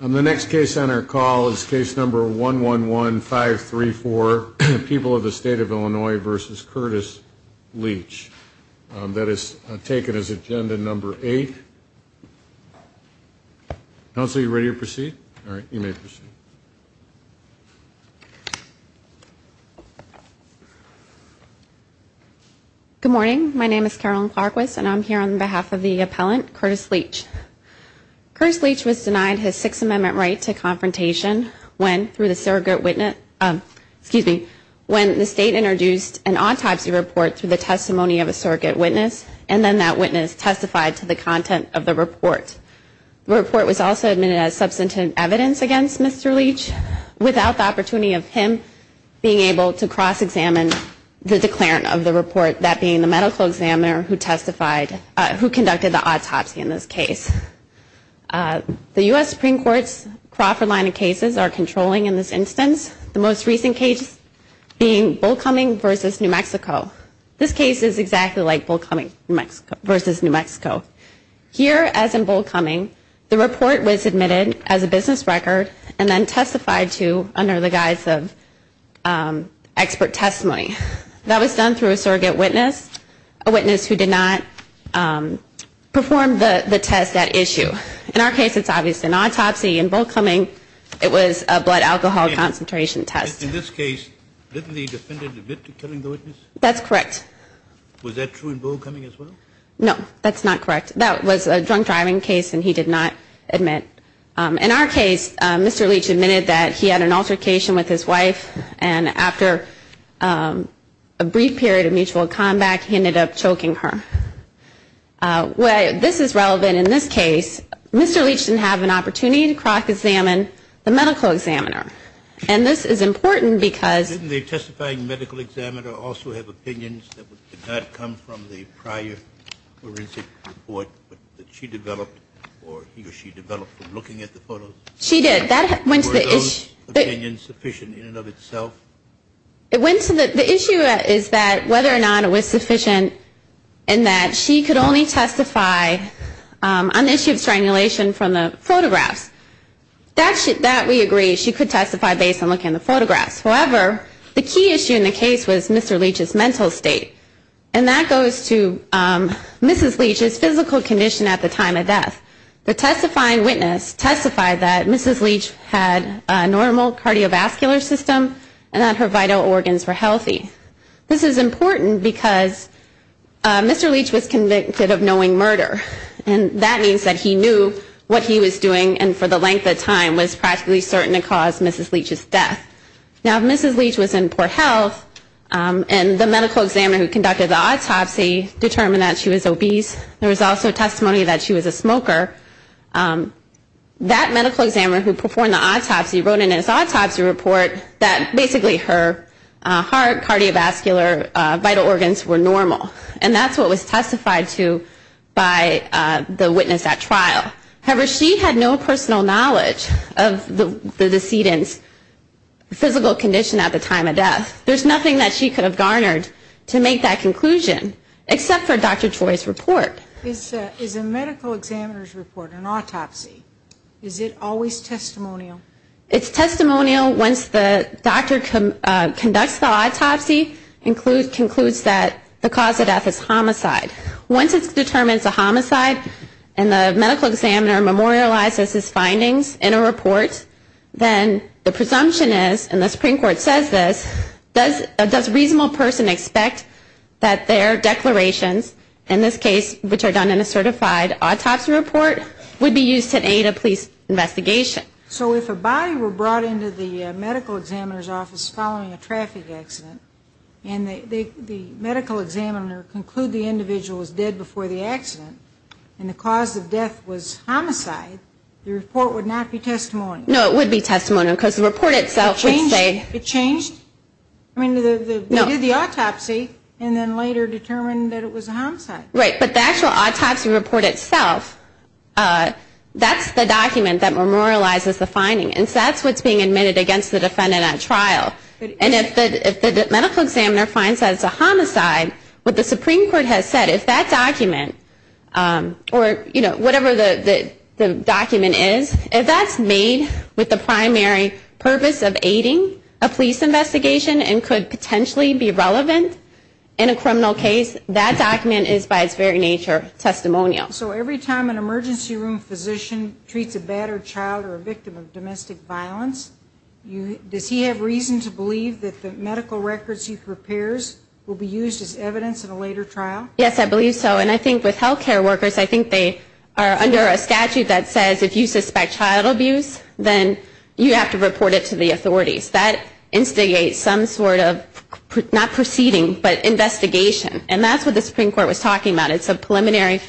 The next case on our call is case number 111534, People of the State of Illinois v. Curtis Leach. That is taken as agenda number eight. Counsel, are you ready to proceed? All right, you may proceed. Good morning. My name is Carolyn Clarquist, and I'm here on behalf of the appellant, Curtis Leach. Curtis Leach was denied his Sixth Amendment right to confrontation when, through the surrogate witness, when the state introduced an autopsy report through the testimony of a surrogate witness, and then that witness testified to the content of the report. The report was also admitted as substantive evidence against Mr. Leach, without the opportunity of him being able to cross-examine the declarant of the report, that being the medical examiner who testified, who conducted the autopsy in this case. The U.S. Supreme Court's Crawford line of cases are controlling in this instance, the most recent case being Bull Cumming v. New Mexico. This case is exactly like Bull Cumming v. New Mexico. Here, as in Bull Cumming, the report was admitted as a business record and then testified to under the guise of expert testimony. That was done through a surrogate witness, a witness who did not perform the test at issue. In our case, it's obviously an autopsy. In Bull Cumming, it was a blood alcohol concentration test. In this case, didn't the defendant admit to killing the witness? That's correct. Was that true in Bull Cumming as well? No, that's not correct. That was a drunk driving case, and he did not admit. In our case, Mr. Leach admitted that he had an altercation with his wife, and after a brief period of mutual combat, he ended up choking her. This is relevant in this case. Mr. Leach didn't have an opportunity to crack examine the medical examiner, and this is important because- Didn't the testifying medical examiner also have opinions that did not come from the prior forensic report that she developed or he or she developed from looking at the photos? She did. Were those opinions sufficient in and of itself? The issue is that whether or not it was sufficient and that she could only testify on the issue of strangulation from the photographs. That we agree, she could testify based on looking at the photographs. However, the key issue in the case was Mr. Leach's mental state, and that goes to Mrs. Leach's physical condition at the time of death. The testifying witness testified that Mrs. Leach had a normal cardiovascular system and that her vital organs were healthy. This is important because Mr. Leach was convicted of knowing murder, and that means that he knew what he was doing and for the length of time was practically certain to cause Mrs. Leach's death. Now, Mrs. Leach was in poor health, and the medical examiner who conducted the autopsy determined that she was obese. There was also testimony that she was a smoker. That medical examiner who performed the autopsy wrote in his autopsy report that basically her heart, cardiovascular, vital organs were normal, and that's what was testified to by the witness at trial. However, she had no personal knowledge of the decedent's physical condition at the time of death. There's nothing that she could have garnered to make that conclusion except for Dr. Choi's report. Is a medical examiner's report, an autopsy, is it always testimonial? It's testimonial once the doctor conducts the autopsy, concludes that the cause of death is homicide. Once it's determined it's a homicide and the medical examiner memorializes his findings in a report, then the presumption is, and the Supreme Court says this, does a reasonable person expect that their declarations, in this case which are done in a certified autopsy report, would be used to aid a police investigation? So if a body were brought into the medical examiner's office following a traffic accident and the medical examiner concluded the individual was dead before the accident and the cause of death was homicide, the report would not be testimonial. No, it would be testimonial because the report itself would say... It changed? I mean, they did the autopsy and then later determined that it was a homicide. Right, but the actual autopsy report itself, that's the document that memorializes the finding, and so that's what's being admitted against the defendant at trial. And if the medical examiner finds that it's a homicide, what the Supreme Court has said is that document, or whatever the document is, if that's made with the primary purpose of aiding a police investigation and could potentially be relevant in a criminal case, that document is by its very nature testimonial. So every time an emergency room physician treats a battered child or a victim of domestic violence, does he have reason to believe that the medical records he prepares will be used as evidence in a later trial? Yes, I believe so. And I think with health care workers, I think they are under a statute that says if you suspect child abuse, then you have to report it to the authorities. That instigates some sort of, not proceeding, but investigation. And that's what the Supreme Court was talking about. It's a preliminary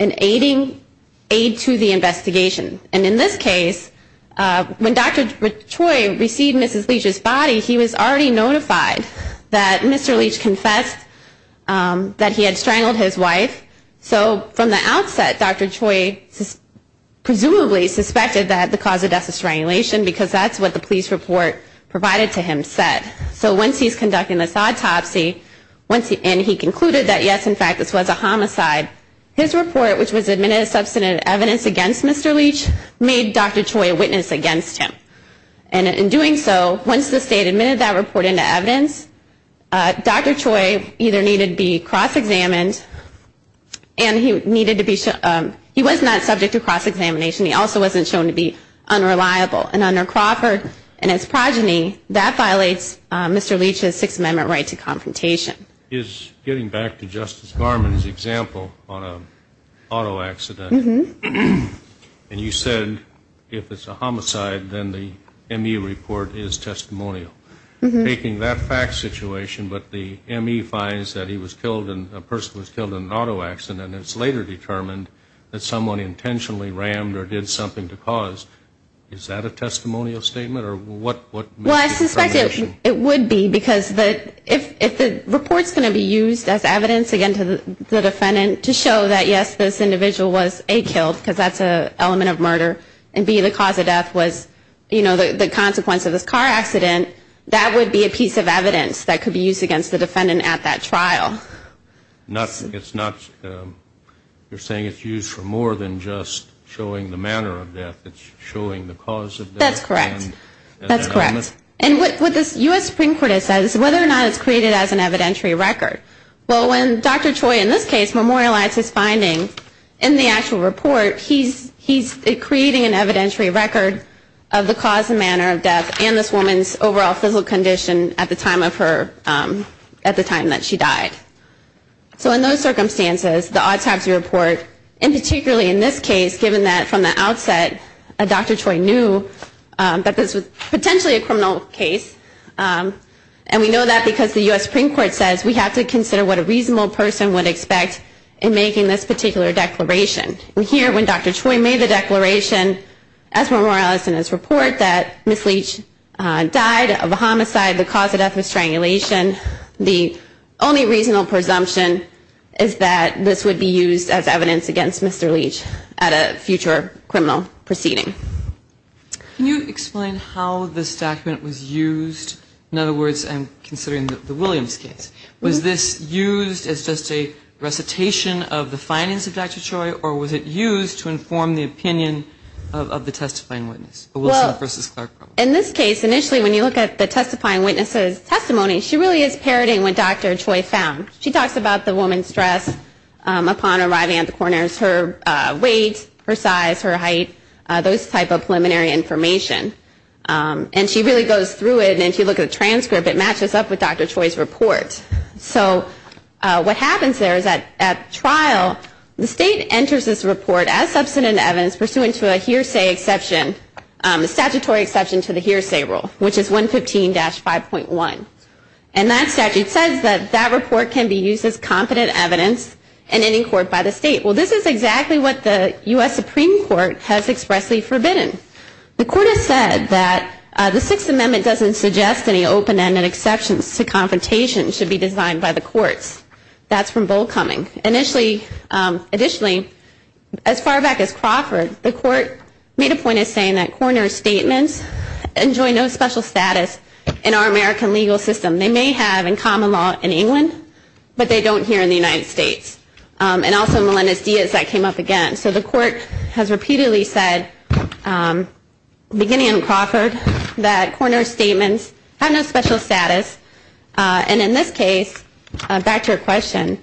aid to the investigation. And in this case, when Dr. Choi received Mrs. Leach's body, he was already notified that Mr. Leach confessed that he had strangled his wife. So from the outset, Dr. Choi presumably suspected that the cause of death is strangulation because that's what the police report provided to him said. So once he's conducting this autopsy, and he concluded that, yes, in fact, this was a homicide, his report, which was admitted as substantive evidence against Mr. Leach, made Dr. Choi a witness against him. And in doing so, once the state admitted that report into evidence, Dr. Choi either needed to be cross-examined, and he was not subject to cross-examination. He also wasn't shown to be unreliable. And under Crawford and his progeny, that violates Mr. Leach's Sixth Amendment right to confrontation. Getting back to Justice Garmon's example on an auto accident, and you said if it's a homicide, then the ME report is testimonial. Making that fact situation, but the ME finds that a person was killed in an auto accident, and it's later determined that someone intentionally rammed or did something to cause, is that a testimonial statement? Well, I suspect it would be, because if the report's going to be used as evidence again to the defendant to show that, yes, this individual was, A, killed, because that's an element of murder, and, B, the cause of death was the consequence of this car accident, that would be a piece of evidence that could be used against the defendant at that trial. You're saying it's used for more than just showing the manner of death. It's showing the cause of death. That's correct. That's correct. And what the U.S. Supreme Court has said is whether or not it's created as an evidentiary record. Well, when Dr. Choi, in this case, memorialized his finding in the actual report, he's creating an evidentiary record of the cause and manner of death and this woman's overall physical condition at the time that she died. So in those circumstances, the autopsy report, and particularly in this case, given that from the outset Dr. Choi knew that this was potentially a criminal case, and we know that because the U.S. Supreme Court says we have to consider what a reasonable person would expect in making this particular declaration. And here, when Dr. Choi made the declaration, as memorialized in his report, that Ms. Leach died of a homicide, the cause of death was strangulation, and the only reasonable presumption is that this would be used as evidence against Mr. Leach at a future criminal proceeding. Can you explain how this document was used? In other words, and considering the Williams case, was this used as just a recitation of the findings of Dr. Choi, or was it used to inform the opinion of the testifying witness, Wilson v. Clark? In this case, initially when you look at the testifying witness's testimony, she really is parroting what Dr. Choi found. She talks about the woman's dress upon arriving at the coroner's, her weight, her size, her height, those type of preliminary information. And she really goes through it, and if you look at the transcript, it matches up with Dr. Choi's report. So what happens there is that at trial, the State enters this report as substantive evidence pursuant to a hearsay exception, a statutory exception to the hearsay rule, which is 115-5.1. And that statute says that that report can be used as competent evidence in any court by the State. Well, this is exactly what the U.S. Supreme Court has expressly forbidden. The Court has said that the Sixth Amendment doesn't suggest any open-ended exceptions to confrontation should be designed by the courts. That's from Volkoming. Additionally, as far back as Crawford, the Court made a point of saying that coroner's statements enjoy no special status in our American legal system. They may have in common law in England, but they don't here in the United States. And also in Melendez-Diaz, that came up again. So the Court has repeatedly said, beginning in Crawford, that coroner's statements have no special status. And in this case, back to your question,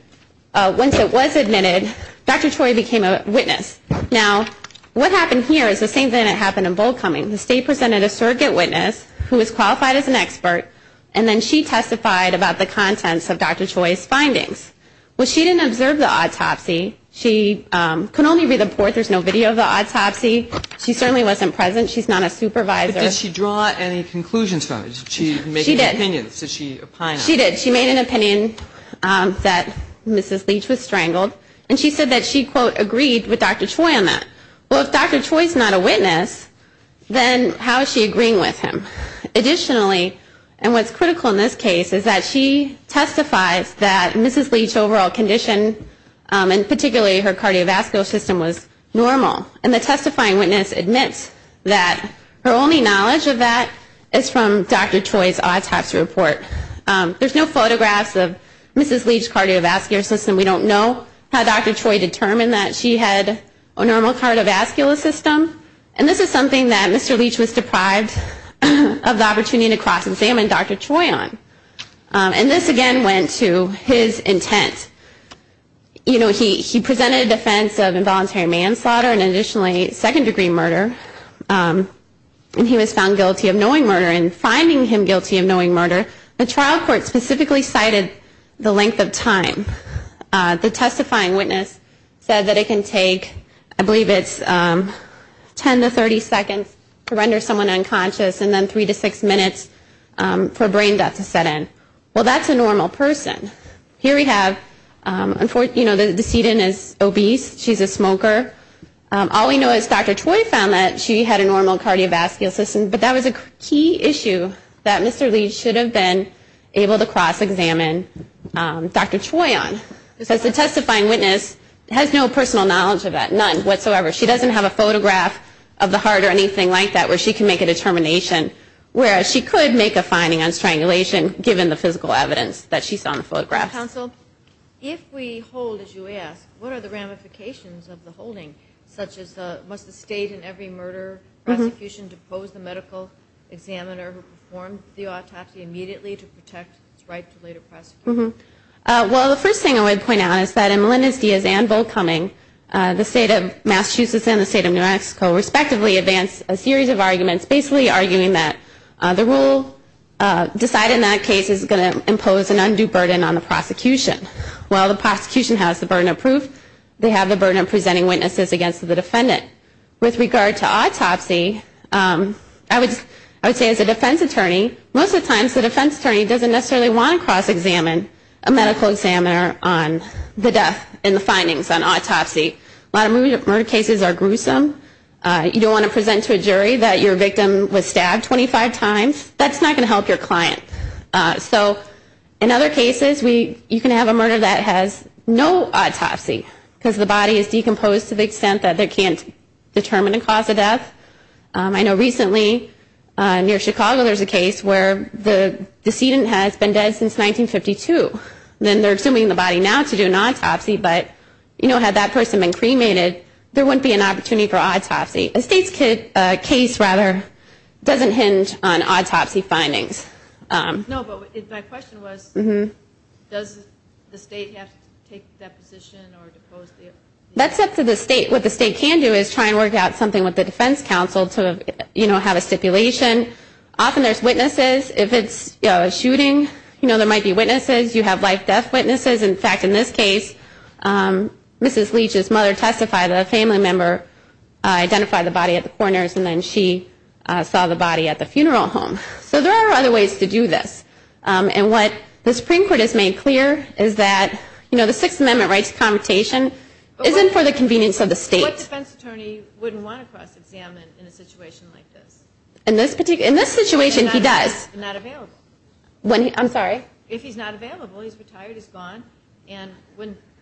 once it was admitted, Dr. Choi became a witness. Now, what happened here is the same thing that happened in Volkoming. The State presented a surrogate witness who was qualified as an expert, and then she testified about the contents of Dr. Choi's findings. Well, she didn't observe the autopsy. She could only read the report. There's no video of the autopsy. She certainly wasn't present. She's not a supervisor. But did she draw any conclusions from it? She made an opinion. She did. Did she opine on it? She did. She made an opinion that Mrs. Leach was strangled. And she said that she, quote, agreed with Dr. Choi on that. Well, if Dr. Choi's not a witness, then how is she agreeing with him? Additionally, and what's critical in this case, is that she testifies that Mrs. Leach's overall condition, and particularly her cardiovascular system, was normal. And the testifying witness admits that her only knowledge of that is from Dr. Choi's autopsy report. There's no photographs of Mrs. Leach's cardiovascular system. We don't know how Dr. Choi determined that she had a normal cardiovascular system. And this is something that Mr. Leach was deprived of the opportunity to cross-examine Dr. Choi on. And this, again, went to his intent. You know, he presented a defense of involuntary manslaughter and, additionally, second-degree murder. And he was found guilty of knowing murder. In finding him guilty of knowing murder, the trial court specifically cited the length of time. The testifying witness said that it can take, I believe it's 10 to 30 seconds to render someone unconscious, and then three to six minutes for brain death to set in. Well, that's a normal person. Here we have, you know, the decedent is obese. She's a smoker. All we know is Dr. Choi found that she had a normal cardiovascular system. But that was a key issue that Mr. Leach should have been able to cross-examine Dr. Choi on. Because the testifying witness has no personal knowledge of that, none whatsoever. She doesn't have a photograph of the heart or anything like that where she can make a determination, whereas she could make a finding on strangulation, given the physical evidence that she saw in the photographs. Counsel, if we hold, as you ask, what are the ramifications of the holding, such as must the state in every murder prosecution depose the medical examiner who performed the autopsy immediately to protect his right to later prosecution? Well, the first thing I would point out is that in Melendez-Diaz and Volkoming, the state of Massachusetts and the state of New Mexico, respectively, advance a series of arguments basically arguing that the rule decided in that case is going to impose an undue burden on the prosecution. While the prosecution has the burden of proof, they have the burden of presenting witnesses against the defendant. With regard to autopsy, I would say as a defense attorney, most of the times the defense attorney doesn't necessarily want to cross-examine a medical examiner on the death and the findings on autopsy. A lot of murder cases are gruesome. You don't want to present to a jury that your victim was stabbed 25 times. That's not going to help your client. So in other cases, you can have a murder that has no autopsy because the body is decomposed to the extent that they can't determine the cause of death. I know recently near Chicago there's a case where the decedent has been dead since 1952. Then they're assuming the body now to do an autopsy, but, you know, had that person been cremated, there wouldn't be an opportunity for autopsy. A state's case, rather, doesn't hinge on autopsy findings. No, but my question was does the state have to take that position or depose the... That's up to the state. What the state can do is try and work out something with the defense counsel to, you know, have a stipulation. Often there's witnesses. If it's a shooting, you know, there might be witnesses. You have life-death witnesses. In fact, in this case, Mrs. Leach's mother testified that a family member identified the body at the coroner's and then she saw the body at the funeral home. So there are other ways to do this. And what the Supreme Court has made clear is that, you know, the Sixth Amendment rights of connotation isn't for the convenience of the state. What defense attorney wouldn't want to cross-examine in a situation like this? In this situation, he does. If he's not available. I'm sorry? If he's not available, he's retired, he's gone. And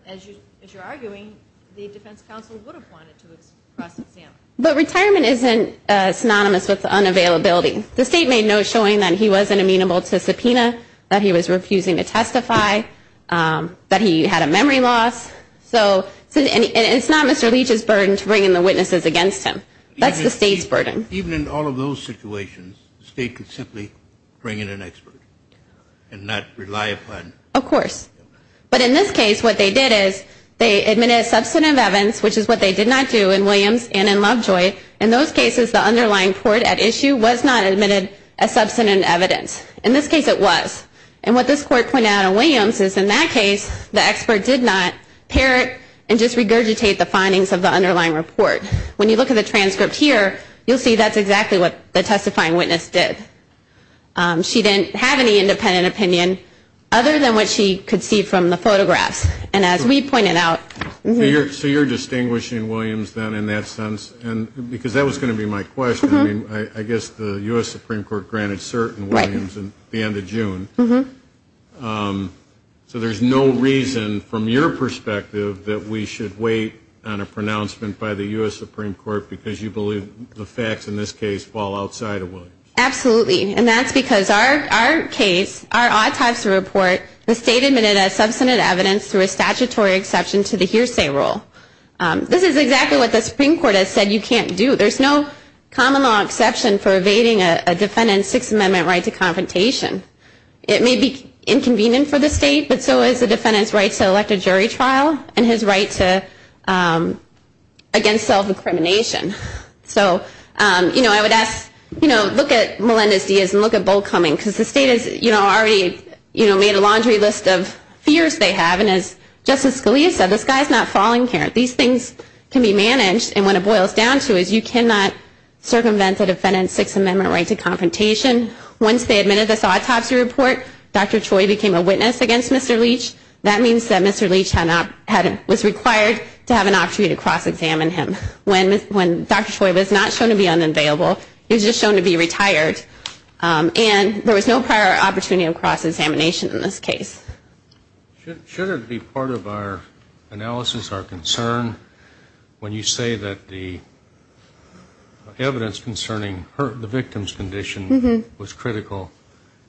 as you're arguing, the defense counsel would have wanted to cross-examine. But retirement isn't synonymous with unavailability. The state made notes showing that he wasn't amenable to subpoena, that he was refusing to testify, that he had a memory loss. And it's not Mr. Leach's burden to bring in the witnesses against him. That's the state's burden. Even in all of those situations, the state could simply bring in an expert and not rely upon. Of course. But in this case, what they did is they admitted a substantive evidence, which is what they did not do in Williams and in Lovejoy. In those cases, the underlying court at issue was not admitted a substantive evidence. In this case, it was. And what this court pointed out in Williams is, in that case, the expert did not parrot and just regurgitate the findings of the underlying report. When you look at the transcript here, you'll see that's exactly what the testifying witness did. She didn't have any independent opinion other than what she could see from the photographs. And as we pointed out. So you're distinguishing Williams then in that sense? Because that was going to be my question. I mean, I guess the U.S. Supreme Court granted cert in Williams at the end of June. So there's no reason from your perspective that we should wait on a pronouncement by the U.S. Supreme Court because you believe the facts in this case fall outside of Williams? Absolutely. And that's because our case, our autopsy report, the state admitted a substantive evidence through a statutory exception to the hearsay rule. This is exactly what the Supreme Court has said you can't do. There's no common law exception for evading a defendant's Sixth Amendment right to confrontation. It may be inconvenient for the state, but so is the defendant's right to elect a jury trial and his right against self-incrimination. So, you know, I would ask, you know, look at Melendez-Diaz and look at Bull Cummings because the state has already made a laundry list of fears they have. And as Justice Scalia said, the sky's not falling here. These things can be managed. And what it boils down to is you cannot circumvent a defendant's Sixth Amendment right to confrontation. Once they admitted this autopsy report, Dr. Choi became a witness against Mr. Leach. That means that Mr. Leach was required to have an opportunity to cross-examine him when Dr. Choi was not shown to be unavailable. He was just shown to be retired. And there was no prior opportunity of cross-examination in this case. Should it be part of our analysis, our concern, when you say that the evidence concerning the victim's condition was critical,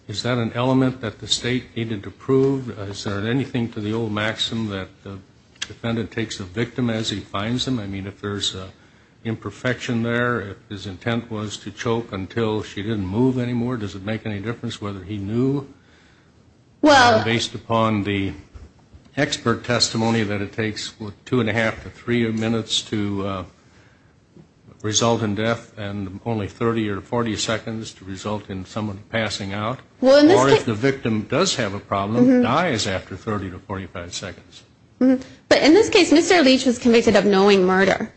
is that an element that the state needed to prove? Is there anything to the old maxim that the defendant takes the victim as he finds them? I mean, if there's imperfection there, if his intent was to choke until she didn't move anymore, does it make any difference whether he knew based upon the expert testimony that it takes two and a half to three minutes to result in death and only 30 or 40 seconds to result in someone passing out? Or if the victim does have a problem, dies after 30 to 45 seconds. But in this case, Mr. Leach was convicted of knowing murder.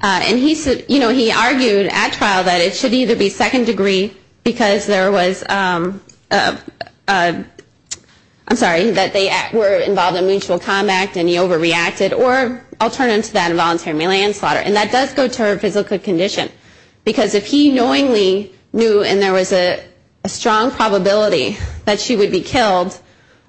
And he argued at trial that it should either be second degree because there was a, I'm sorry, that they were involved in mutual combat and he overreacted, or alternative to that, involuntary manslaughter. And that does go to her physical condition. Because if he knowingly knew and there was a strong probability that she would be killed,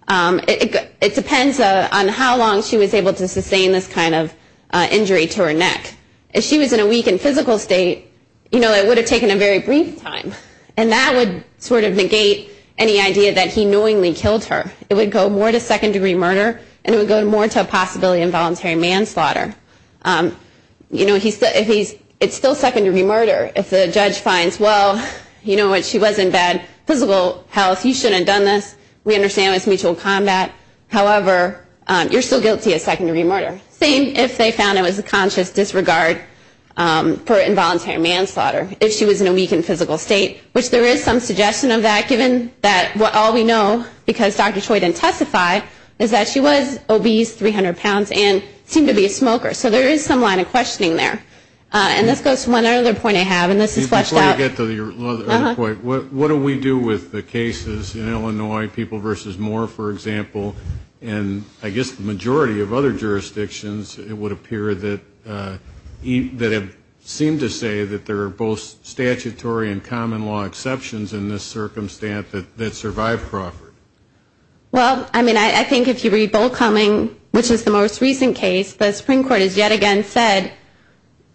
it depends on how long she was able to sustain this kind of injury to her neck. If she was in a weakened physical state, you know, it would have taken a very brief time. And that would sort of negate any idea that he knowingly killed her. It would go more to second degree murder, and it would go more to a possibility of involuntary manslaughter. You know, it's still second degree murder. If the judge finds, well, you know, she was in bad physical health, you shouldn't have done this, we understand it was mutual combat. However, you're still guilty of second degree murder. Same if they found it was a conscious disregard for involuntary manslaughter. If she was in a weakened physical state, which there is some suggestion of that given that all we know, because Dr. Choi didn't testify, is that she was obese, 300 pounds, and seemed to be a smoker. So there is some line of questioning there. And this goes to one other point I have, and this is fleshed out. What do we do with the cases in Illinois, people versus Moore, for example, and I guess the majority of other jurisdictions it would appear that have seemed to say that there are both statutory and common law exceptions in this circumstance that survive Crawford. Well, I mean, I think if you read Bollcoming, which is the most recent case, the Supreme Court has yet again said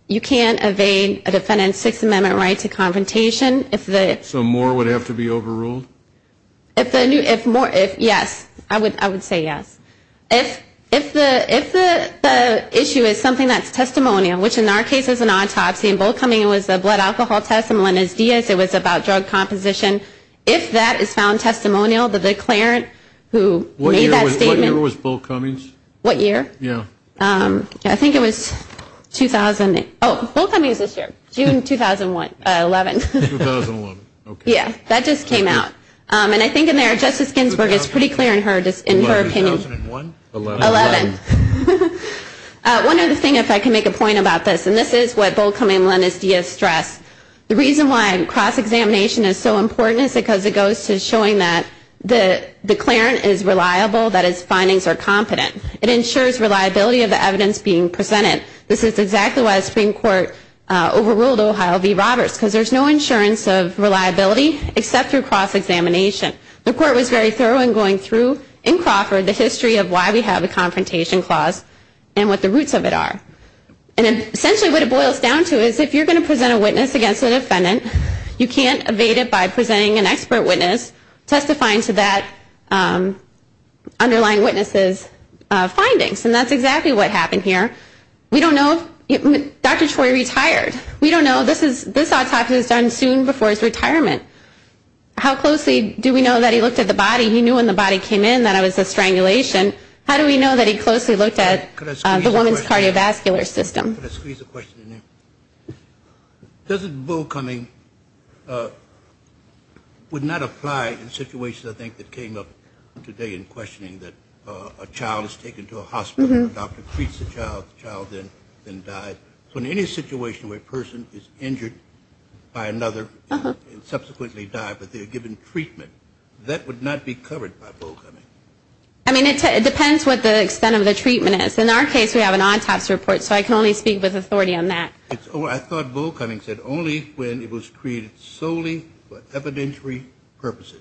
you can't evade a defendant's Sixth Amendment right to confrontation. So Moore would have to be overruled? Yes, I would say yes. If the issue is something that's testimonial, which in our case is an autopsy, in Bollcoming it was a blood alcohol test, in Melendez-Diaz it was about drug composition, if that is found testimonial, the declarant who made that statement. What year was Bollcoming's? What year? Yeah. I think it was 2008. Oh, Bollcoming is this year, June 2011. 2011, okay. Yeah, that just came out. And I think in there Justice Ginsburg is pretty clear in her opinion. 2001? 11. 11. One other thing, if I can make a point about this, and this is what Bollcoming and Melendez-Diaz stress, the reason why cross-examination is so important is because it goes to showing that the declarant is reliable, that his findings are competent. It ensures reliability of the evidence being presented. This is exactly why the Supreme Court overruled Ohio v. Roberts, because there's no insurance of reliability except through cross-examination. The Court was very thorough in going through in Crawford the history of why we have a confrontation clause and what the roots of it are. And essentially what it boils down to is if you're going to present a witness against a defendant, you can't evade it by presenting an expert witness testifying to that underlying witness's findings. And that's exactly what happened here. We don't know if Dr. Troy retired. We don't know. This autopsy was done soon before his retirement. How closely do we know that he looked at the body? He knew when the body came in that it was a strangulation. How do we know that he closely looked at the woman's cardiovascular system? Can I squeeze a question in there? Doesn't bull-cumming would not apply in situations, I think, that came up today in questioning that a child is taken to a hospital, a doctor treats the child, the child then dies? So in any situation where a person is injured by another and subsequently died, but they're given treatment, that would not be covered by bull-cumming? I mean, it depends what the extent of the treatment is. In our case, we have an autopsy report, so I can only speak with authority on that. I thought bull-cumming said only when it was created solely for evidentiary purposes.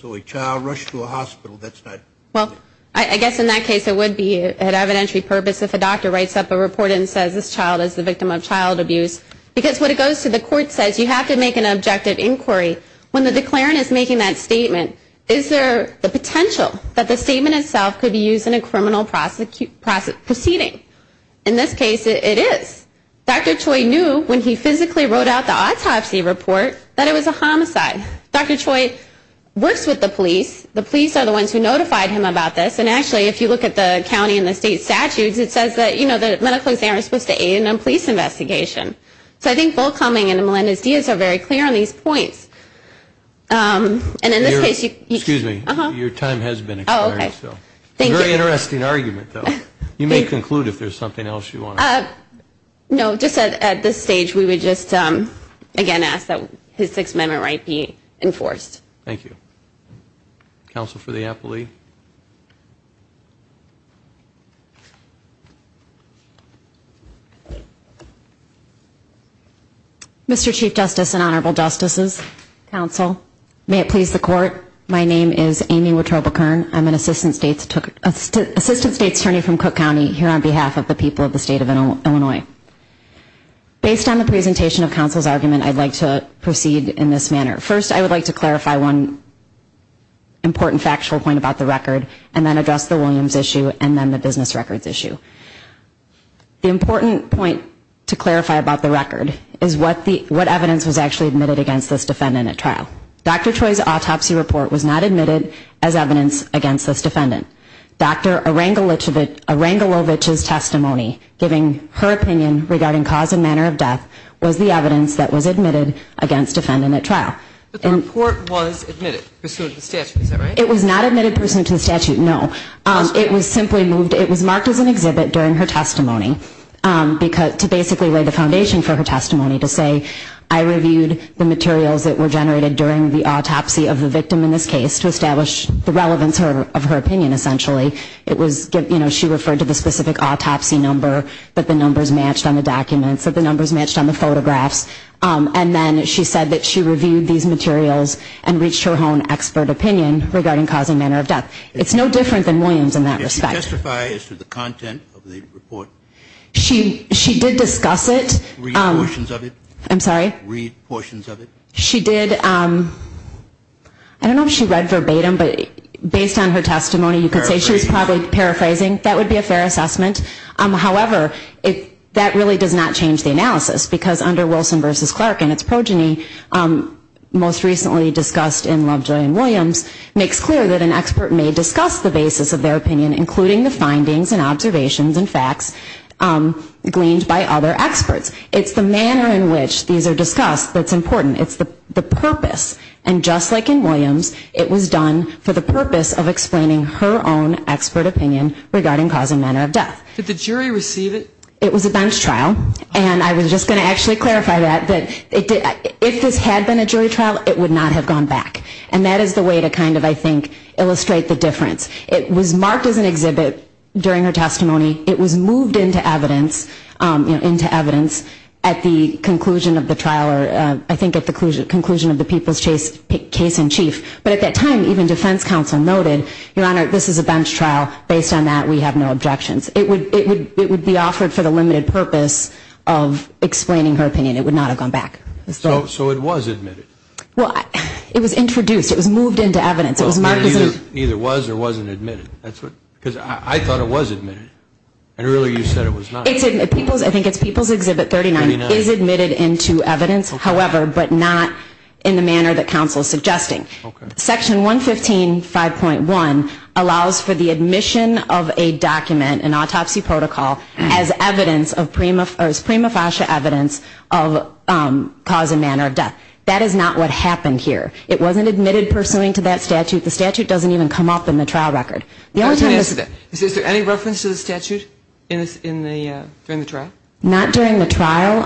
So a child rushed to a hospital, that's not. Well, I guess in that case it would be an evidentiary purpose if a doctor writes up a report and says this child is the victim of child abuse. Because when it goes to the court and says you have to make an objective inquiry, when the declarant is making that statement, is there the potential that the statement itself could be used in a criminal proceeding? In this case, it is. Dr. Choi knew when he physically wrote out the autopsy report that it was a homicide. Dr. Choi works with the police. The police are the ones who notified him about this. And actually, if you look at the county and the state statutes, it says that, you know, the medical examiner is supposed to aid in a police investigation. So I think bull-cumming and Melendez-Diaz are very clear on these points. And in this case you can... Excuse me. Uh-huh. Your time has been expired. Oh, okay. Thank you. That's a very interesting argument, though. You may conclude if there's something else you want to add. No, just at this stage we would just, again, ask that his Sixth Amendment right be enforced. Thank you. Counsel for the aptly. Mr. Chief Justice and Honorable Justices, Counsel, may it please the Court, my name is Amy Wittrobekern. I'm an Assistant State's Attorney from Cook County here on behalf of the people of the State of Illinois. Based on the presentation of counsel's argument, I'd like to proceed in this manner. First, I would like to clarify one important factual point about the record and then address the Williams issue and then the business records issue. The important point to clarify about the record is what evidence was actually admitted against this defendant at trial. Dr. Choi's autopsy report was not admitted as evidence against this defendant. Dr. Arangelovich's testimony, giving her opinion regarding cause and manner of death, was the evidence that was admitted against defendant at trial. But the report was admitted pursuant to the statute, is that right? It was not admitted pursuant to the statute, no. It was simply moved. It was marked as an exhibit during her testimony to basically lay the foundation for her testimony to say, I reviewed the materials that were generated during the autopsy of the victim in this case to establish the relevance of her opinion, essentially. It was, you know, she referred to the specific autopsy number that the numbers matched on the documents, that the numbers matched on the photographs. And then she said that she reviewed these materials and reached her own expert opinion regarding cause and manner of death. It's no different than Williams in that respect. Did she testify as to the content of the report? She did discuss it. Read portions of it. I'm sorry? Read portions of it. She did. I don't know if she read verbatim, but based on her testimony, you could say she was probably paraphrasing. That would be a fair assessment. However, that really does not change the analysis because under Wilson v. Clark and its progeny, most recently discussed in Lovejoy and Williams, makes clear that an expert may discuss the basis of their opinion, including the findings and observations and facts gleaned by other experts. It's the manner in which these are discussed that's important. It's the purpose. And just like in Williams, it was done for the purpose of explaining her own expert opinion regarding cause and manner of death. Did the jury receive it? It was a bench trial. And I was just going to actually clarify that, that if this had been a jury trial, it would not have gone back. And that is the way to kind of, I think, illustrate the difference. It was marked as an exhibit during her testimony. It was moved into evidence at the conclusion of the trial or I think at the conclusion of the people's case in chief. But at that time, even defense counsel noted, Your Honor, this is a bench trial. Based on that, we have no objections. It would be offered for the limited purpose of explaining her opinion. It would not have gone back. So it was admitted? Well, it was introduced. It was moved into evidence. Neither was or wasn't admitted. Because I thought it was admitted. And really you said it was not. I think it's People's Exhibit 39. It is admitted into evidence, however, but not in the manner that counsel is suggesting. Section 115.5.1 allows for the admission of a document, an autopsy protocol, as prima facie evidence of cause and manner of death. That is not what happened here. It wasn't admitted pursuant to that statute. The statute doesn't even come up in the trial record. Is there any reference to the statute during the trial? Not during the trial.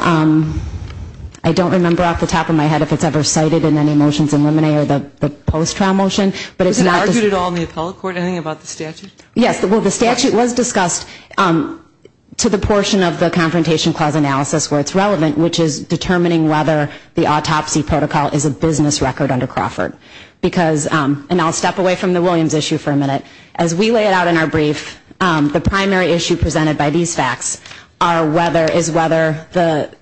I don't remember off the top of my head if it's ever cited in any motions in limine or the post-trial motion. Was it argued at all in the appellate court, anything about the statute? Yes. Well, the statute was discussed to the portion of the Confrontation Clause analysis where it's relevant, which is determining whether the autopsy protocol is a business record under Crawford. And I'll step away from the Williams issue for a minute. As we lay it out in our brief, the primary issue presented by these facts is whether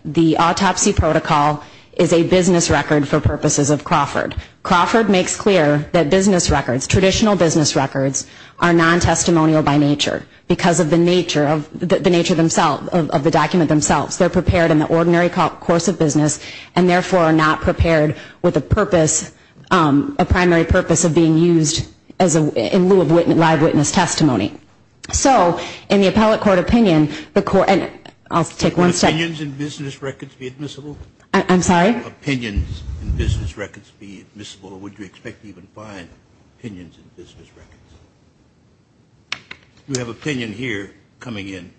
the autopsy protocol is a business record for purposes of Crawford. Crawford makes clear that traditional business records are non-testimonial by nature because of the nature of the document themselves. They're prepared in the ordinary course of business and, therefore, are not prepared with a purpose, a primary purpose of being used in lieu of live witness testimony. So in the appellate court opinion, the court, and I'll take one second. Would opinions in business records be admissible? I'm sorry? Would opinions in business records be admissible, or would you expect to even find opinions in business records? We have opinion here coming in.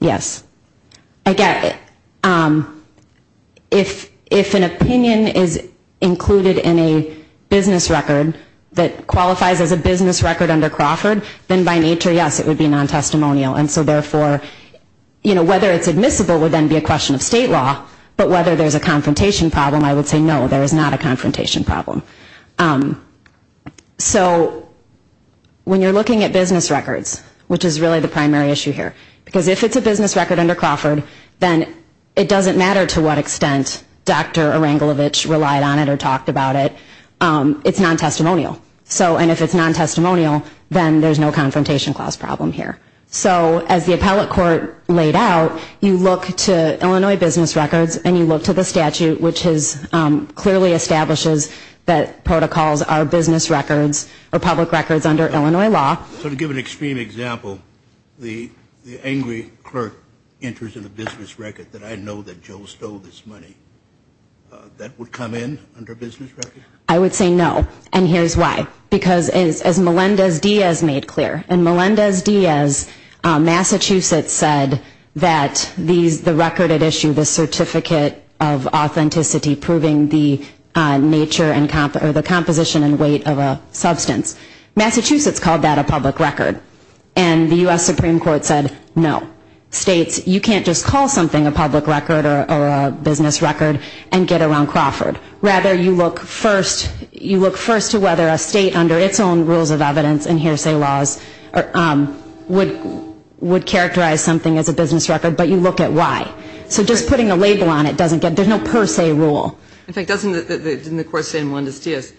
Yes. I get it. If an opinion is included in a business record that qualifies as a business record under Crawford, then by nature, yes, it would be non-testimonial. And so, therefore, whether it's admissible would then be a question of state law, but whether there's a confrontation problem, I would say no, there is not a confrontation problem. So when you're looking at business records, which is really the primary issue here, because if it's a business record under Crawford, then it doesn't matter to what extent Dr. Erangelovich relied on it or talked about it, it's non-testimonial. And if it's non-testimonial, then there's no confrontation clause problem here. So as the appellate court laid out, you look to Illinois business records and you look to the statute, which clearly establishes that protocols are business records or public records under Illinois law. So to give an extreme example, the angry clerk enters in a business record, that I know that Joe stole this money, that would come in under a business record? I would say no, and here's why. Because as Melendez-Diaz made clear, and Melendez-Diaz, Massachusetts, said that the record at issue, the certificate of authenticity proving the nature or the composition and weight of a substance, Massachusetts called that a public record. And the U.S. Supreme Court said no. States, you can't just call something a public record or a business record and get around Crawford. Rather, you look first to whether a state under its own rules of evidence and hearsay laws would characterize something as a business record, but you look at why. So just putting a label on it doesn't get, there's no per se rule. In fact, doesn't the court say in Melendez-Diaz,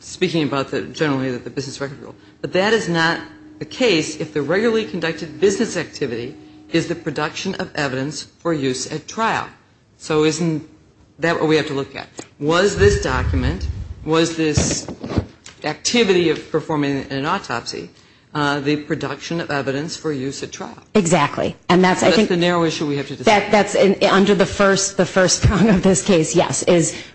speaking about generally the business record rule, but that is not the case if the regularly conducted business activity is the production of evidence for use at trial. So isn't that what we have to look at? Was this document, was this activity of performing an autopsy the production of evidence for use at trial? Exactly. That's the narrow issue we have to discuss. That's under the first prong of this case, yes,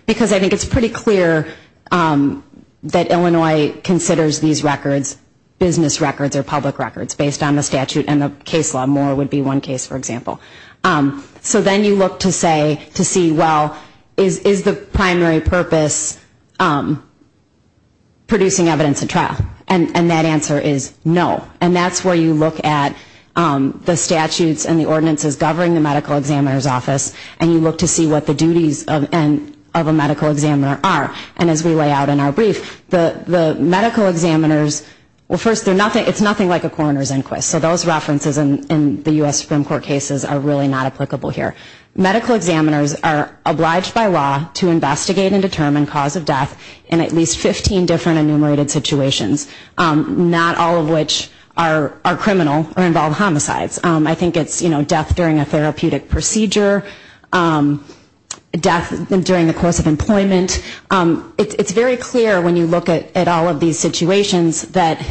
because I think it's pretty clear that Illinois considers these records business records or public records based on the statute and the case law. Moore would be one case, for example. So then you look to see, well, is the primary purpose producing evidence at trial? And that answer is no. And that's where you look at the statutes and the ordinances governing the medical examiner's office and you look to see what the duties of a medical examiner are. And as we lay out in our brief, the medical examiners, well, first, it's nothing like a coroner's inquest. So those references in the U.S. Supreme Court cases are really not applicable here. Medical examiners are obliged by law to investigate and determine cause of death in at least 15 different enumerated situations, not all of which are criminal or involve homicides. I think it's death during a therapeutic procedure, death during the course of employment. It's very clear when you look at all of these situations that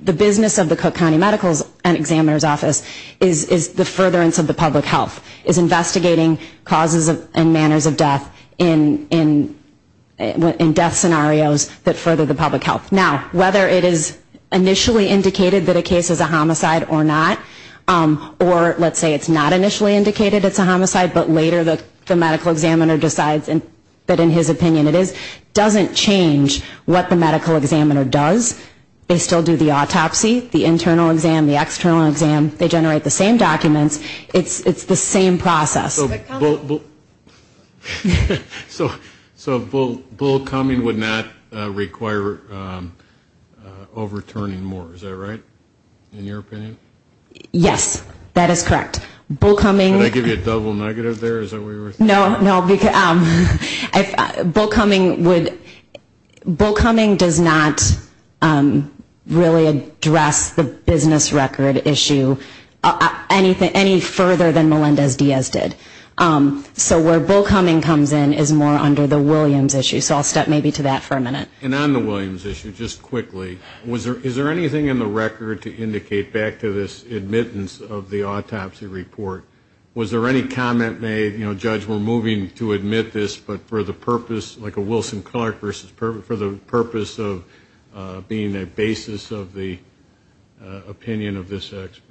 the business of the Cook County Medical Examiner's Office is the furtherance of the public health, is investigating causes and manners of death in death scenarios that further the public health. Now, whether it is initially indicated that a case is a homicide or not, or let's say it's not initially indicated it's a homicide, but later the medical examiner decides that in his opinion it is, doesn't change what the medical examiner does. They still do the autopsy, the internal exam, the external exam. They generate the same documents. It's the same process. So bull coming would not require overturning more, is that right, in your opinion? Yes, that is correct. Did I give you a double negative there? No, no. Bull coming does not really address the business record issue any further than Melendez-Diaz did. So where bull coming comes in is more under the Williams issue. So I'll step maybe to that for a minute. And on the Williams issue, just quickly, is there anything in the record to indicate back to this admittance of the autopsy report? Was there any comment made, you know, Judge, we're moving to admit this, but for the purpose, like a Wilson-Clark versus purpose, for the purpose of being a basis of the opinion of this expert?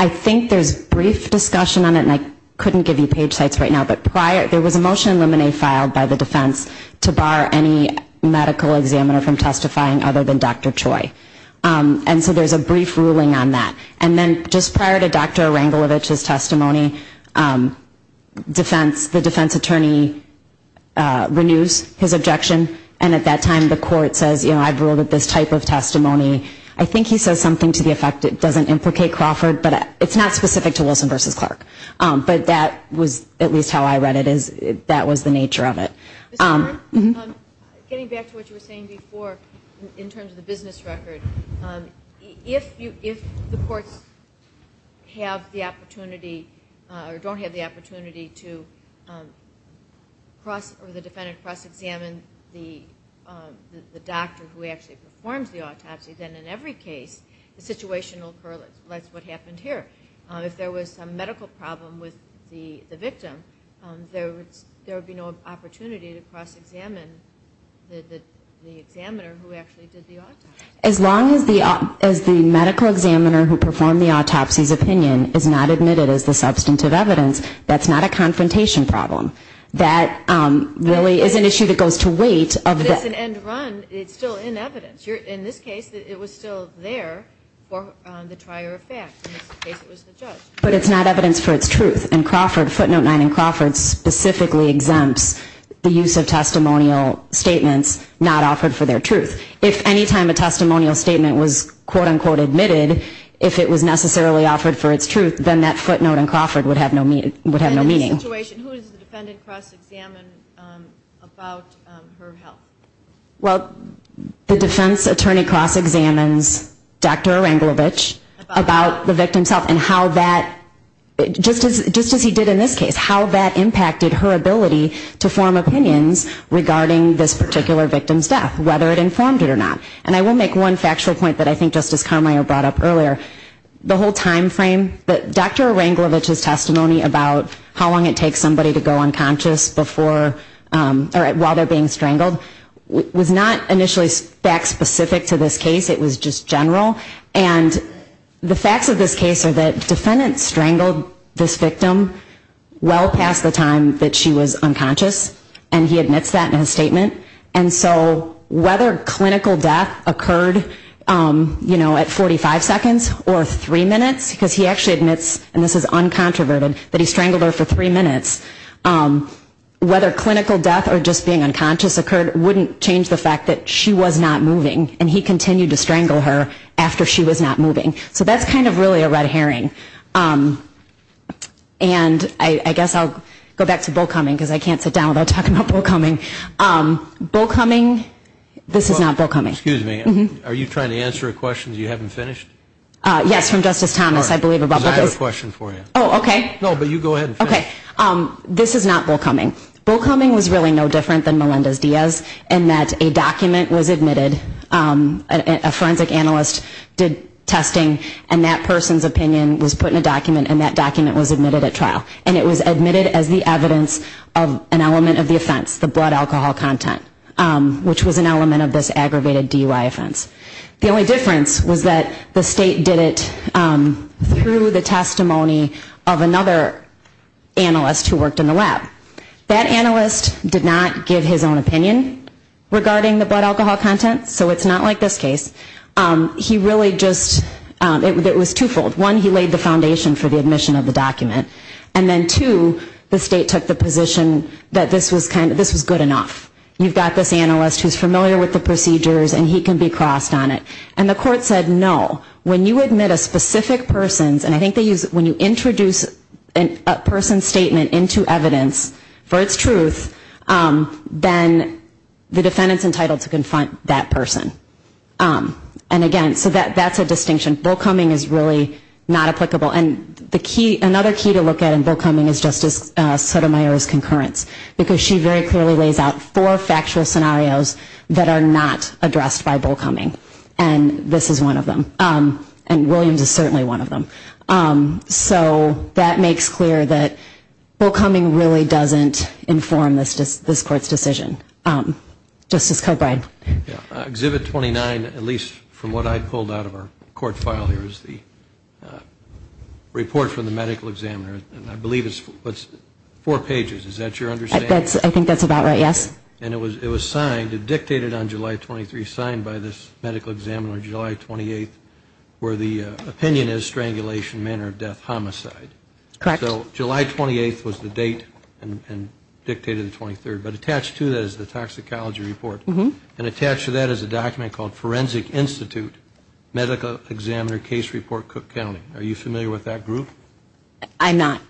I think there's brief discussion on it, and I couldn't give you page sites right now, but there was a motion in Lemonnier filed by the defense to bar any medical examiner from testifying other than Dr. Choi. And so there's a brief ruling on that. And then just prior to Dr. Erangelovich's testimony, the defense attorney renews his objection, and at that time the court says, you know, I've ruled that this type of testimony, I think he says something to the effect it doesn't implicate Crawford, but it's not specific to Wilson versus Clark. But that was at least how I read it, that was the nature of it. Ms. Warren, getting back to what you were saying before in terms of the business record, if the courts have the opportunity or don't have the opportunity to cross or the defendant cross-examine the doctor who actually performs the autopsy, then in every case the situation will occur less what happened here. If there was some medical problem with the victim, there would be no opportunity to cross-examine the examiner who actually did the autopsy. As long as the medical examiner who performed the autopsy's opinion is not admitted as the substantive evidence, that's not a confrontation problem. That really is an issue that goes to weight. If it's an end run, it's still in evidence. In this case, it was still there for the trier of fact. In this case, it was the judge. But it's not evidence for its truth, and footnote 9 in Crawford specifically exempts the use of testimonial statements not offered for their truth. If any time a testimonial statement was quote-unquote admitted, if it was necessarily offered for its truth, then that footnote in Crawford would have no meaning. And in this situation, who does the defendant cross-examine about her health? Well, the defense attorney cross-examines Dr. Aranglovich about the victim's health and how that, just as he did in this case, how that impacted her ability to form opinions regarding this particular victim's death, whether it informed it or not. And I will make one factual point that I think Justice Carmeier brought up earlier. The whole time frame that Dr. Aranglovich's testimony about how long it takes somebody to go unconscious before or while they're being strangled was not initially fact-specific to this case. It was just general. And the facts of this case are that the defendant strangled this victim well past the time that she was unconscious, and he admits that in his statement. And so whether clinical death occurred, you know, at 45 seconds or three minutes, because he actually admits, and this is uncontroverted, that he strangled her for three minutes, whether clinical death or just being unconscious occurred wouldn't change the fact that she was not moving, and he continued to strangle her after she was not moving. So that's kind of really a red herring. And I guess I'll go back to Bowcoming, because I can't sit down without talking about Bowcoming. Bowcoming, this is not Bowcoming. Excuse me, are you trying to answer a question you haven't finished? Yes, from Justice Thomas, I believe. I have a question for you. Oh, okay. No, but you go ahead and finish. Okay. This is not Bowcoming. Bowcoming was really no different than Melendez-Diaz in that a document was admitted, a forensic analyst did testing, and that person's opinion was put in a document, and that document was admitted at trial. And it was admitted as the evidence of an element of the offense, the blood alcohol content, which was an element of this aggravated DUI offense. The only difference was that the state did it through the testimony of another analyst who worked in the lab. That analyst did not give his own opinion regarding the blood alcohol content, so it's not like this case. He really just, it was twofold. One, he laid the foundation for the admission of the document, and then two, the state took the position that this was good enough. You've got this analyst who's familiar with the procedures, and he can be crossed on it. And the court said, no, when you admit a specific person's, and I think they use when you introduce a person's statement into evidence for its truth, then the defendant's entitled to confront that person. And, again, so that's a distinction. Bowcoming is really not applicable. And the key, another key to look at in Bowcoming is Justice Sotomayor's concurrence because she very clearly lays out four factual scenarios that are not addressed by Bowcoming. And this is one of them. And Williams is certainly one of them. So that makes clear that Bowcoming really doesn't inform this Court's decision. Justice Coburn. Exhibit 29, at least from what I pulled out of our court file here, is the report from the medical examiner. And I believe it's four pages. Is that your understanding? I think that's about right, yes. And it was signed, dictated on July 23, signed by this medical examiner July 28, where the opinion is strangulation, manner of death, homicide. Correct. So July 28 was the date and dictated the 23rd. But attached to that is the toxicology report. And attached to that is a document called Forensic Institute Medical Examiner Case Report, Cook County. Are you familiar with that group? I'm not.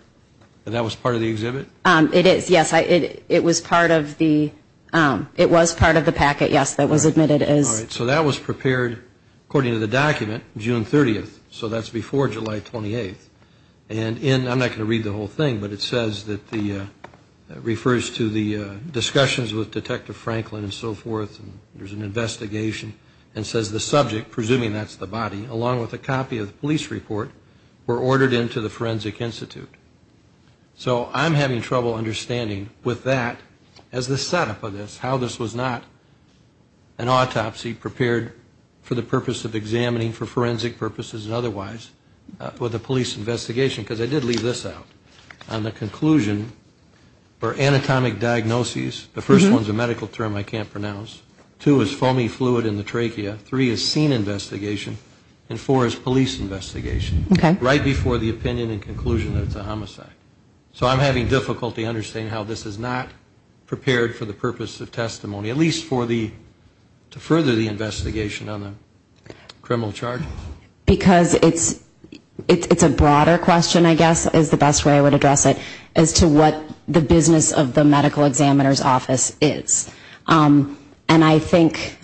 And that was part of the exhibit? It is, yes. It was part of the packet, yes, that was admitted as. All right. So that was prepared, according to the document, June 30th. So that's before July 28th. And in, I'm not going to read the whole thing, but it says that the, refers to the discussions with Detective Franklin and so forth, and there's an investigation, and says the subject, presuming that's the body, along with a copy of the police report, were ordered into the Forensic Institute. So I'm having trouble understanding with that, as the setup of this, how this was not an autopsy prepared for the purpose of examining for forensic purposes and otherwise with a police investigation. Because I did leave this out on the conclusion for anatomic diagnoses. The first one's a medical term I can't pronounce. Two is foamy fluid in the trachea. Three is scene investigation. And four is police investigation. Right before the opinion and conclusion that it's a homicide. So I'm having difficulty understanding how this is not prepared for the purpose of testimony, at least for the, to further the investigation on the criminal charges. Because it's a broader question, I guess, is the best way I would address it, as to what the business of the medical examiner's office is. And I think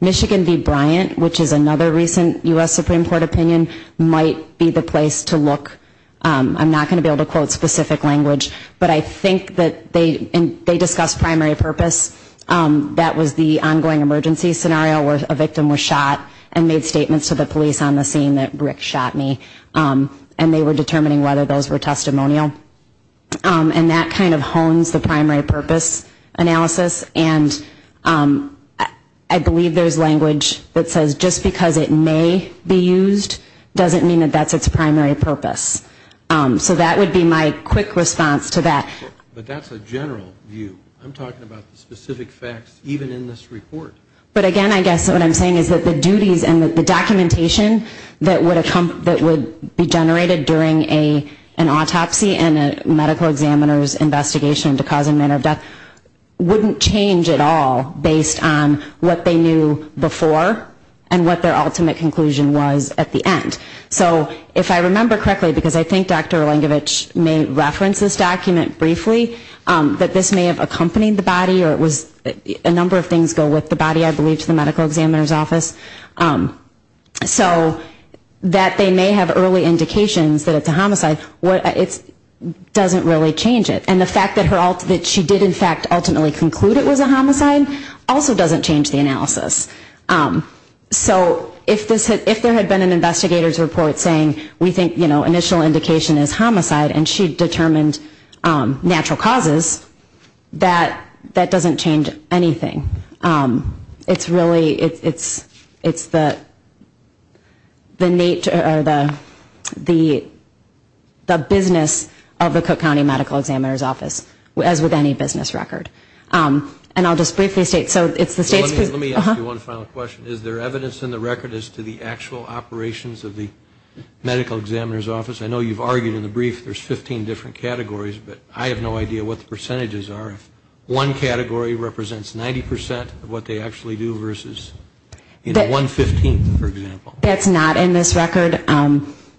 Michigan v. Bryant, which is another recent U.S. Supreme Court opinion, might be the place to look. I'm not going to be able to quote specific language. But I think that they discussed primary purpose. That was the ongoing emergency scenario where a victim was shot and made statements to the police on the scene that Rick shot me. And they were determining whether those were testimonial. And that kind of hones the primary purpose analysis. And I believe there's language that says, just because it may be used doesn't mean that that's its primary purpose. So that would be my quick response to that. But that's a general view. I'm talking about the specific facts even in this report. But, again, I guess what I'm saying is that the duties and the documentation that would be generated during an autopsy and a medical examiner's investigation into the cause and manner of death wouldn't change at all based on what they knew before and what their ultimate conclusion was at the end. So if I remember correctly, because I think Dr. Erlangevich may reference this document briefly, that this may have accompanied the body or a number of things go with the body, I believe, to the medical examiner's office. So that they may have early indications that it's a homicide, it doesn't really change it. And the fact that she did, in fact, ultimately conclude it was a homicide also doesn't change the analysis. So if there had been an investigator's report saying, we think initial indication is homicide, and she determined natural causes, that doesn't change anything. It's really, it's the business of the Cook County Medical Examiner's Office, as with any business record. And I'll just briefly state, so it's the state's... Let me ask you one final question. Is there evidence in the record as to the actual operations of the medical examiner's office? I know you've argued in the brief there's 15 different categories, but I have no idea what the percentages are. One category represents 90% of what they actually do versus 115, for example. That's not in this record.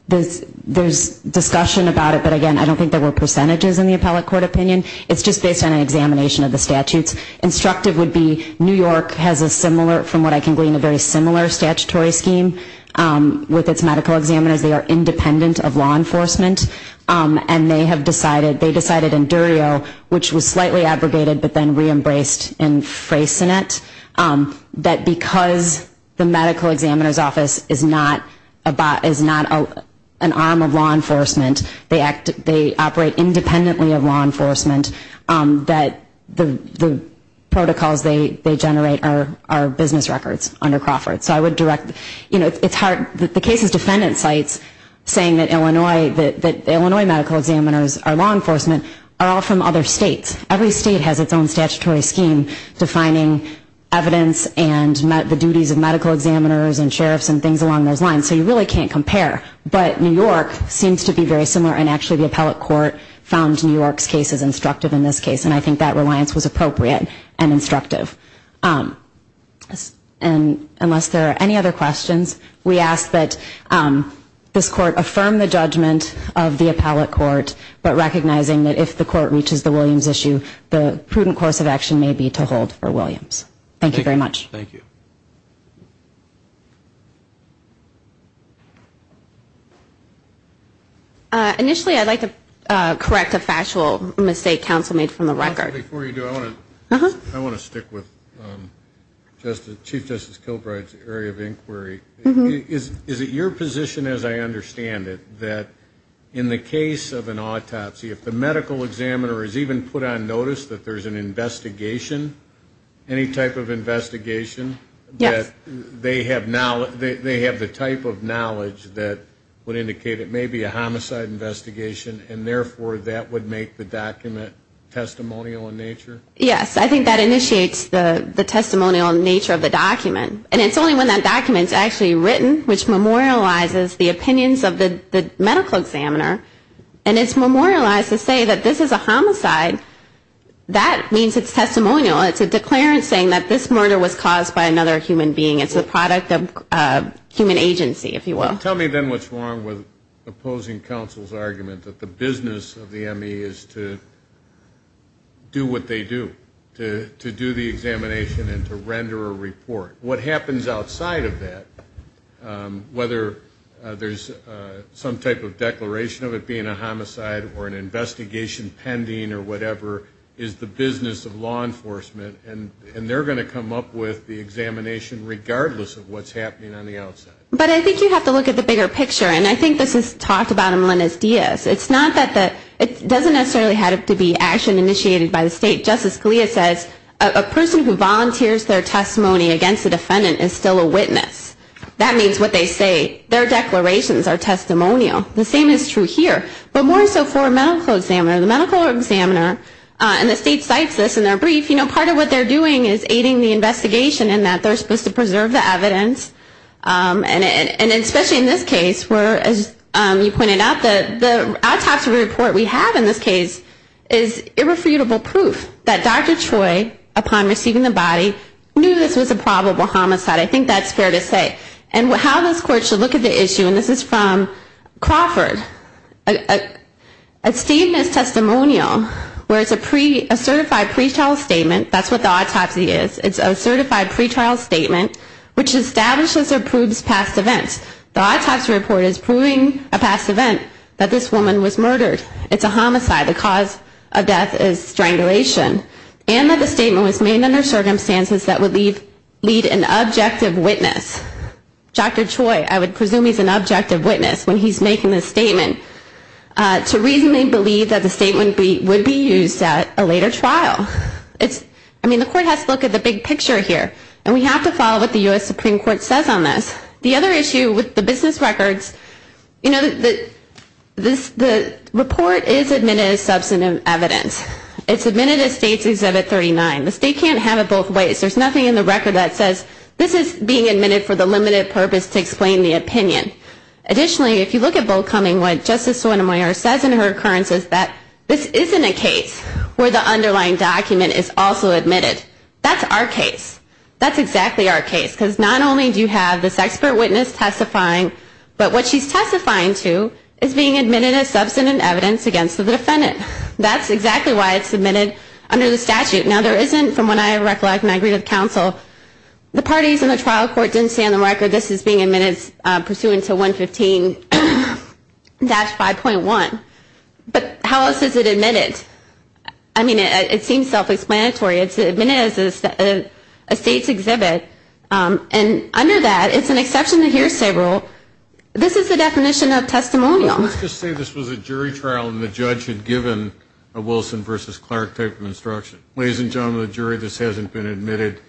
There's discussion about it, but, again, I don't think there were percentages in the appellate court opinion. It's just based on an examination of the statutes. Instructive would be New York has a similar, from what I can glean, a very similar statutory scheme with its medical examiners. They are independent of law enforcement, and they have decided, they decided in Durio, which was slightly abrogated but then re-embraced in Freysenet, that because the medical examiner's office is not an arm of law enforcement, they operate independently of law enforcement, that the protocols they generate are business records under Crawford. So I would direct, you know, it's hard. The case's defendant cites saying that Illinois medical examiners are law enforcement are all from other states. Every state has its own statutory scheme defining evidence and the duties of medical examiners and sheriffs and things along those lines, so you really can't compare. But New York seems to be very similar, and actually the appellate court found New York's case as instructive in this case, and I think that reliance was appropriate and instructive. And unless there are any other questions, we ask that this court affirm the judgment of the appellate court, but recognizing that if the court reaches the Williams issue, the prudent course of action may be to hold for Williams. Thank you very much. Thank you. Initially I'd like to correct a factual mistake counsel made from the record. Before you do, I want to stick with Chief Justice Kilbride's area of inquiry. Is it your position, as I understand it, that in the case of an autopsy, if the medical examiner has even put on notice that there's an investigation, any type of investigation, that they have the type of knowledge that would indicate it may be a homicide investigation and therefore that would make the document testimonial in nature? Yes. I think that initiates the testimonial nature of the document, and it's only when that document is actually written, which memorializes the opinions of the medical examiner, and it's memorialized to say that this is a homicide, that means it's testimonial. It's a declarant saying that this murder was caused by another human being. It's a product of human agency, if you will. Tell me then what's wrong with opposing counsel's argument that the business of the ME is to do what they do, to do the examination and to render a report. What happens outside of that, whether there's some type of declaration of it being a homicide or an investigation pending or whatever, is the business of law enforcement, and they're going to come up with the examination regardless of what's happening on the outside. But I think you have to look at the bigger picture, and I think this is talked about in Melendez-Diaz. It doesn't necessarily have to be action initiated by the state. Justice Scalia says a person who volunteers their testimony against a defendant is still a witness. That means what they say, their declarations are testimonial. The same is true here, but more so for a medical examiner. The medical examiner, and the state cites this in their brief, part of what they're doing is aiding the investigation in that they're supposed to preserve the evidence. And especially in this case where, as you pointed out, the autopsy report we have in this case is irrefutable proof that Dr. Troy, upon receiving the body, knew this was a probable homicide. I think that's fair to say. And how this court should look at the issue, and this is from Crawford, a statement is testimonial, whereas a certified pretrial statement, that's what the autopsy is, it's a certified pretrial statement which establishes or proves past events. The autopsy report is proving a past event, that this woman was murdered. It's a homicide. The cause of death is strangulation. And that the statement was made under circumstances that would lead an objective witness, Dr. Troy, I would presume he's an objective witness when he's making this statement, to reasonably believe that the statement would be used at a later trial. I mean, the court has to look at the big picture here. And we have to follow what the U.S. Supreme Court says on this. The other issue with the business records, you know, the report is admitted as substantive evidence. It's admitted as States Exhibit 39. The state can't have it both ways. There's nothing in the record that says this is being admitted for the limited purpose to explain the opinion. Additionally, if you look at Boldcombing, what Justice Sotomayor says in her occurrence is that this isn't a case where the underlying document is also admitted. That's our case. That's exactly our case. Because not only do you have this expert witness testifying, but what she's testifying to is being admitted as substantive evidence against the defendant. That's exactly why it's submitted under the statute. Now, there isn't, from what I recollect when I agreed with counsel, the parties in the trial court didn't say on the record this is being admitted pursuant to 115-5.1. But how else is it admitted? I mean, it seems self-explanatory. It's admitted as a States Exhibit. And under that, it's an exception to hearsay rule. This is the definition of testimonial. Let's just say this was a jury trial and the judge had given a Wilson versus Clark type of instruction. Ladies and gentlemen of the jury, this hasn't been admitted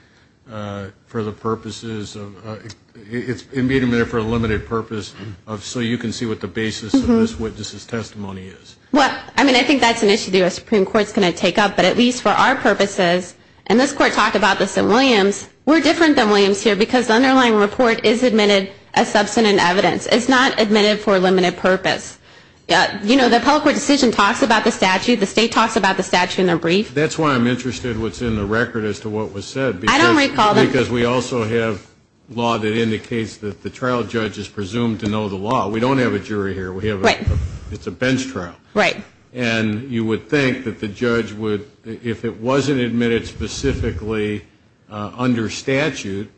for the purposes of ‑‑ Well, I mean, I think that's an issue the U.S. Supreme Court is going to take up. But at least for our purposes, and this Court talked about this in Williams, we're different than Williams here because the underlying report is admitted as substantive evidence. It's not admitted for a limited purpose. You know, the public court decision talks about the statute. The state talks about the statute in their brief. That's why I'm interested what's in the record as to what was said. I don't recall that. Because we also have law that indicates that the trial judge is presumed to know the law. We don't have a jury here. It's a bench trial. Right. And you would think that the judge would, if it wasn't admitted specifically under statute,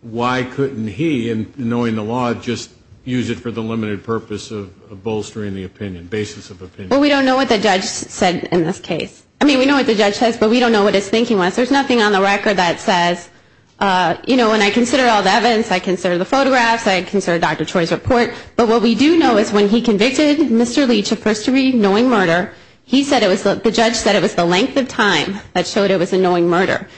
why couldn't he, knowing the law, just use it for the limited purpose of bolstering the opinion, basis of opinion? Well, we don't know what the judge said in this case. I mean, we know what the judge says, but we don't know what his thinking was. There's nothing on the record that says, you know, when I consider all the evidence, I consider the photographs, I consider Dr. Choi's report. But what we do know is when he convicted Mr. Leach of first-degree knowing murder, he said it was the judge said it was the length of time that showed it was a knowing murder.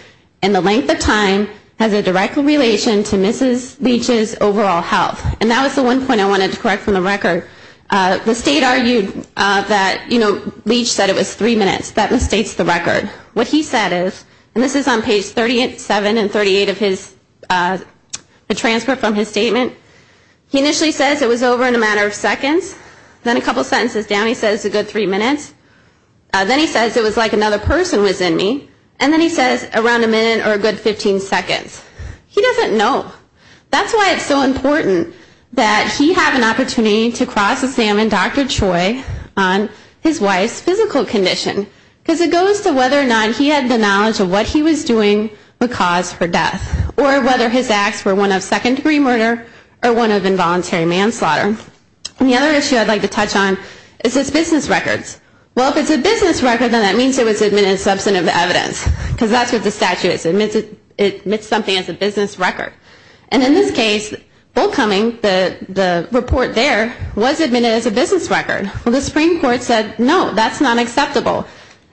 And the length of time has a direct relation to Mrs. Leach's overall health. And that was the one point I wanted to correct from the record. The state argued that, you know, Leach said it was three minutes. That mistakes the record. What he said is, and this is on page 37 and 38 of his transfer from his statement, he initially says it was over in a matter of seconds. Then a couple sentences down he says a good three minutes. Then he says it was like another person was in me. And then he says around a minute or a good 15 seconds. He doesn't know. That's why it's so important that he have an opportunity to cross examine Dr. Choi on his wife's physical condition. Because it goes to whether or not he had the knowledge of what he was doing would cause her death. Or whether his acts were one of second-degree murder or one of involuntary manslaughter. And the other issue I'd like to touch on is his business records. Well, if it's a business record, then that means it was admitted as substantive evidence. Because that's what the statute is. It admits something as a business record. And in this case, Bull Cumming, the report there, was admitted as a business record. Well, the Supreme Court said, no, that's not acceptable.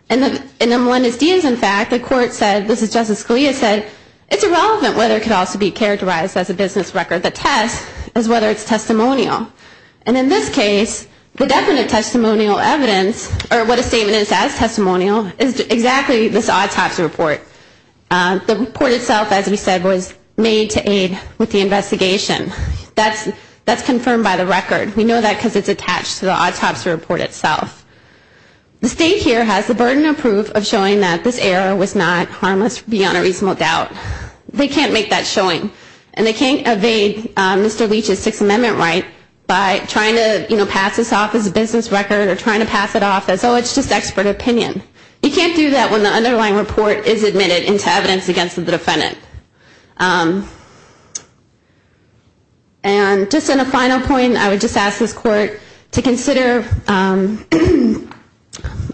And then Melendez-Diaz, in fact, the court said, this is Justice Scalia, said, it's irrelevant whether it could also be characterized as a business record. The test is whether it's testimonial. And in this case, the definite testimonial evidence, or what a statement is as testimonial, is exactly this autopsy report. The report itself, as we said, was made to aid with the investigation. That's confirmed by the record. We know that because it's attached to the autopsy report itself. The state here has the burden of proof of showing that this error was not harmless beyond a reasonable doubt. They can't make that showing. And they can't evade Mr. Leach's Sixth Amendment right by trying to pass this off as a business record or trying to pass it off as, oh, it's just expert opinion. You can't do that when the underlying report is admitted into evidence against the defendant. And just on a final point, I would just ask this court to consider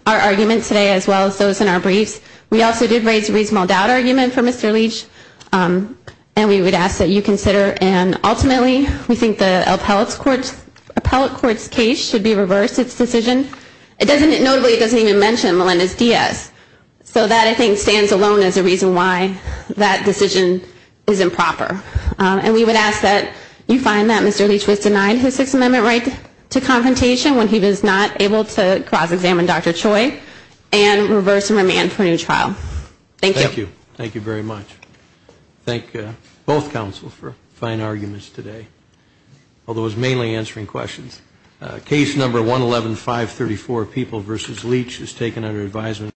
our argument today as well as those in our briefs. We also did raise a reasonable doubt argument for Mr. Leach. And we would ask that you consider. And ultimately, we think the appellate court's case should be reversed, its decision. Notably, it doesn't even mention Melendez-Diaz. So that, I think, stands alone as a reason why that decision is improper. And we would ask that you find that Mr. Leach was denied his Sixth Amendment right to confrontation when he was not able to cross-examine Dr. Choi and reverse and remand for a new trial. Thank you. Thank you. Thank you very much. Thank both counsels for fine arguments today, although it was mainly answering questions. Case number 111534, People v. Leach, is taken under advisement.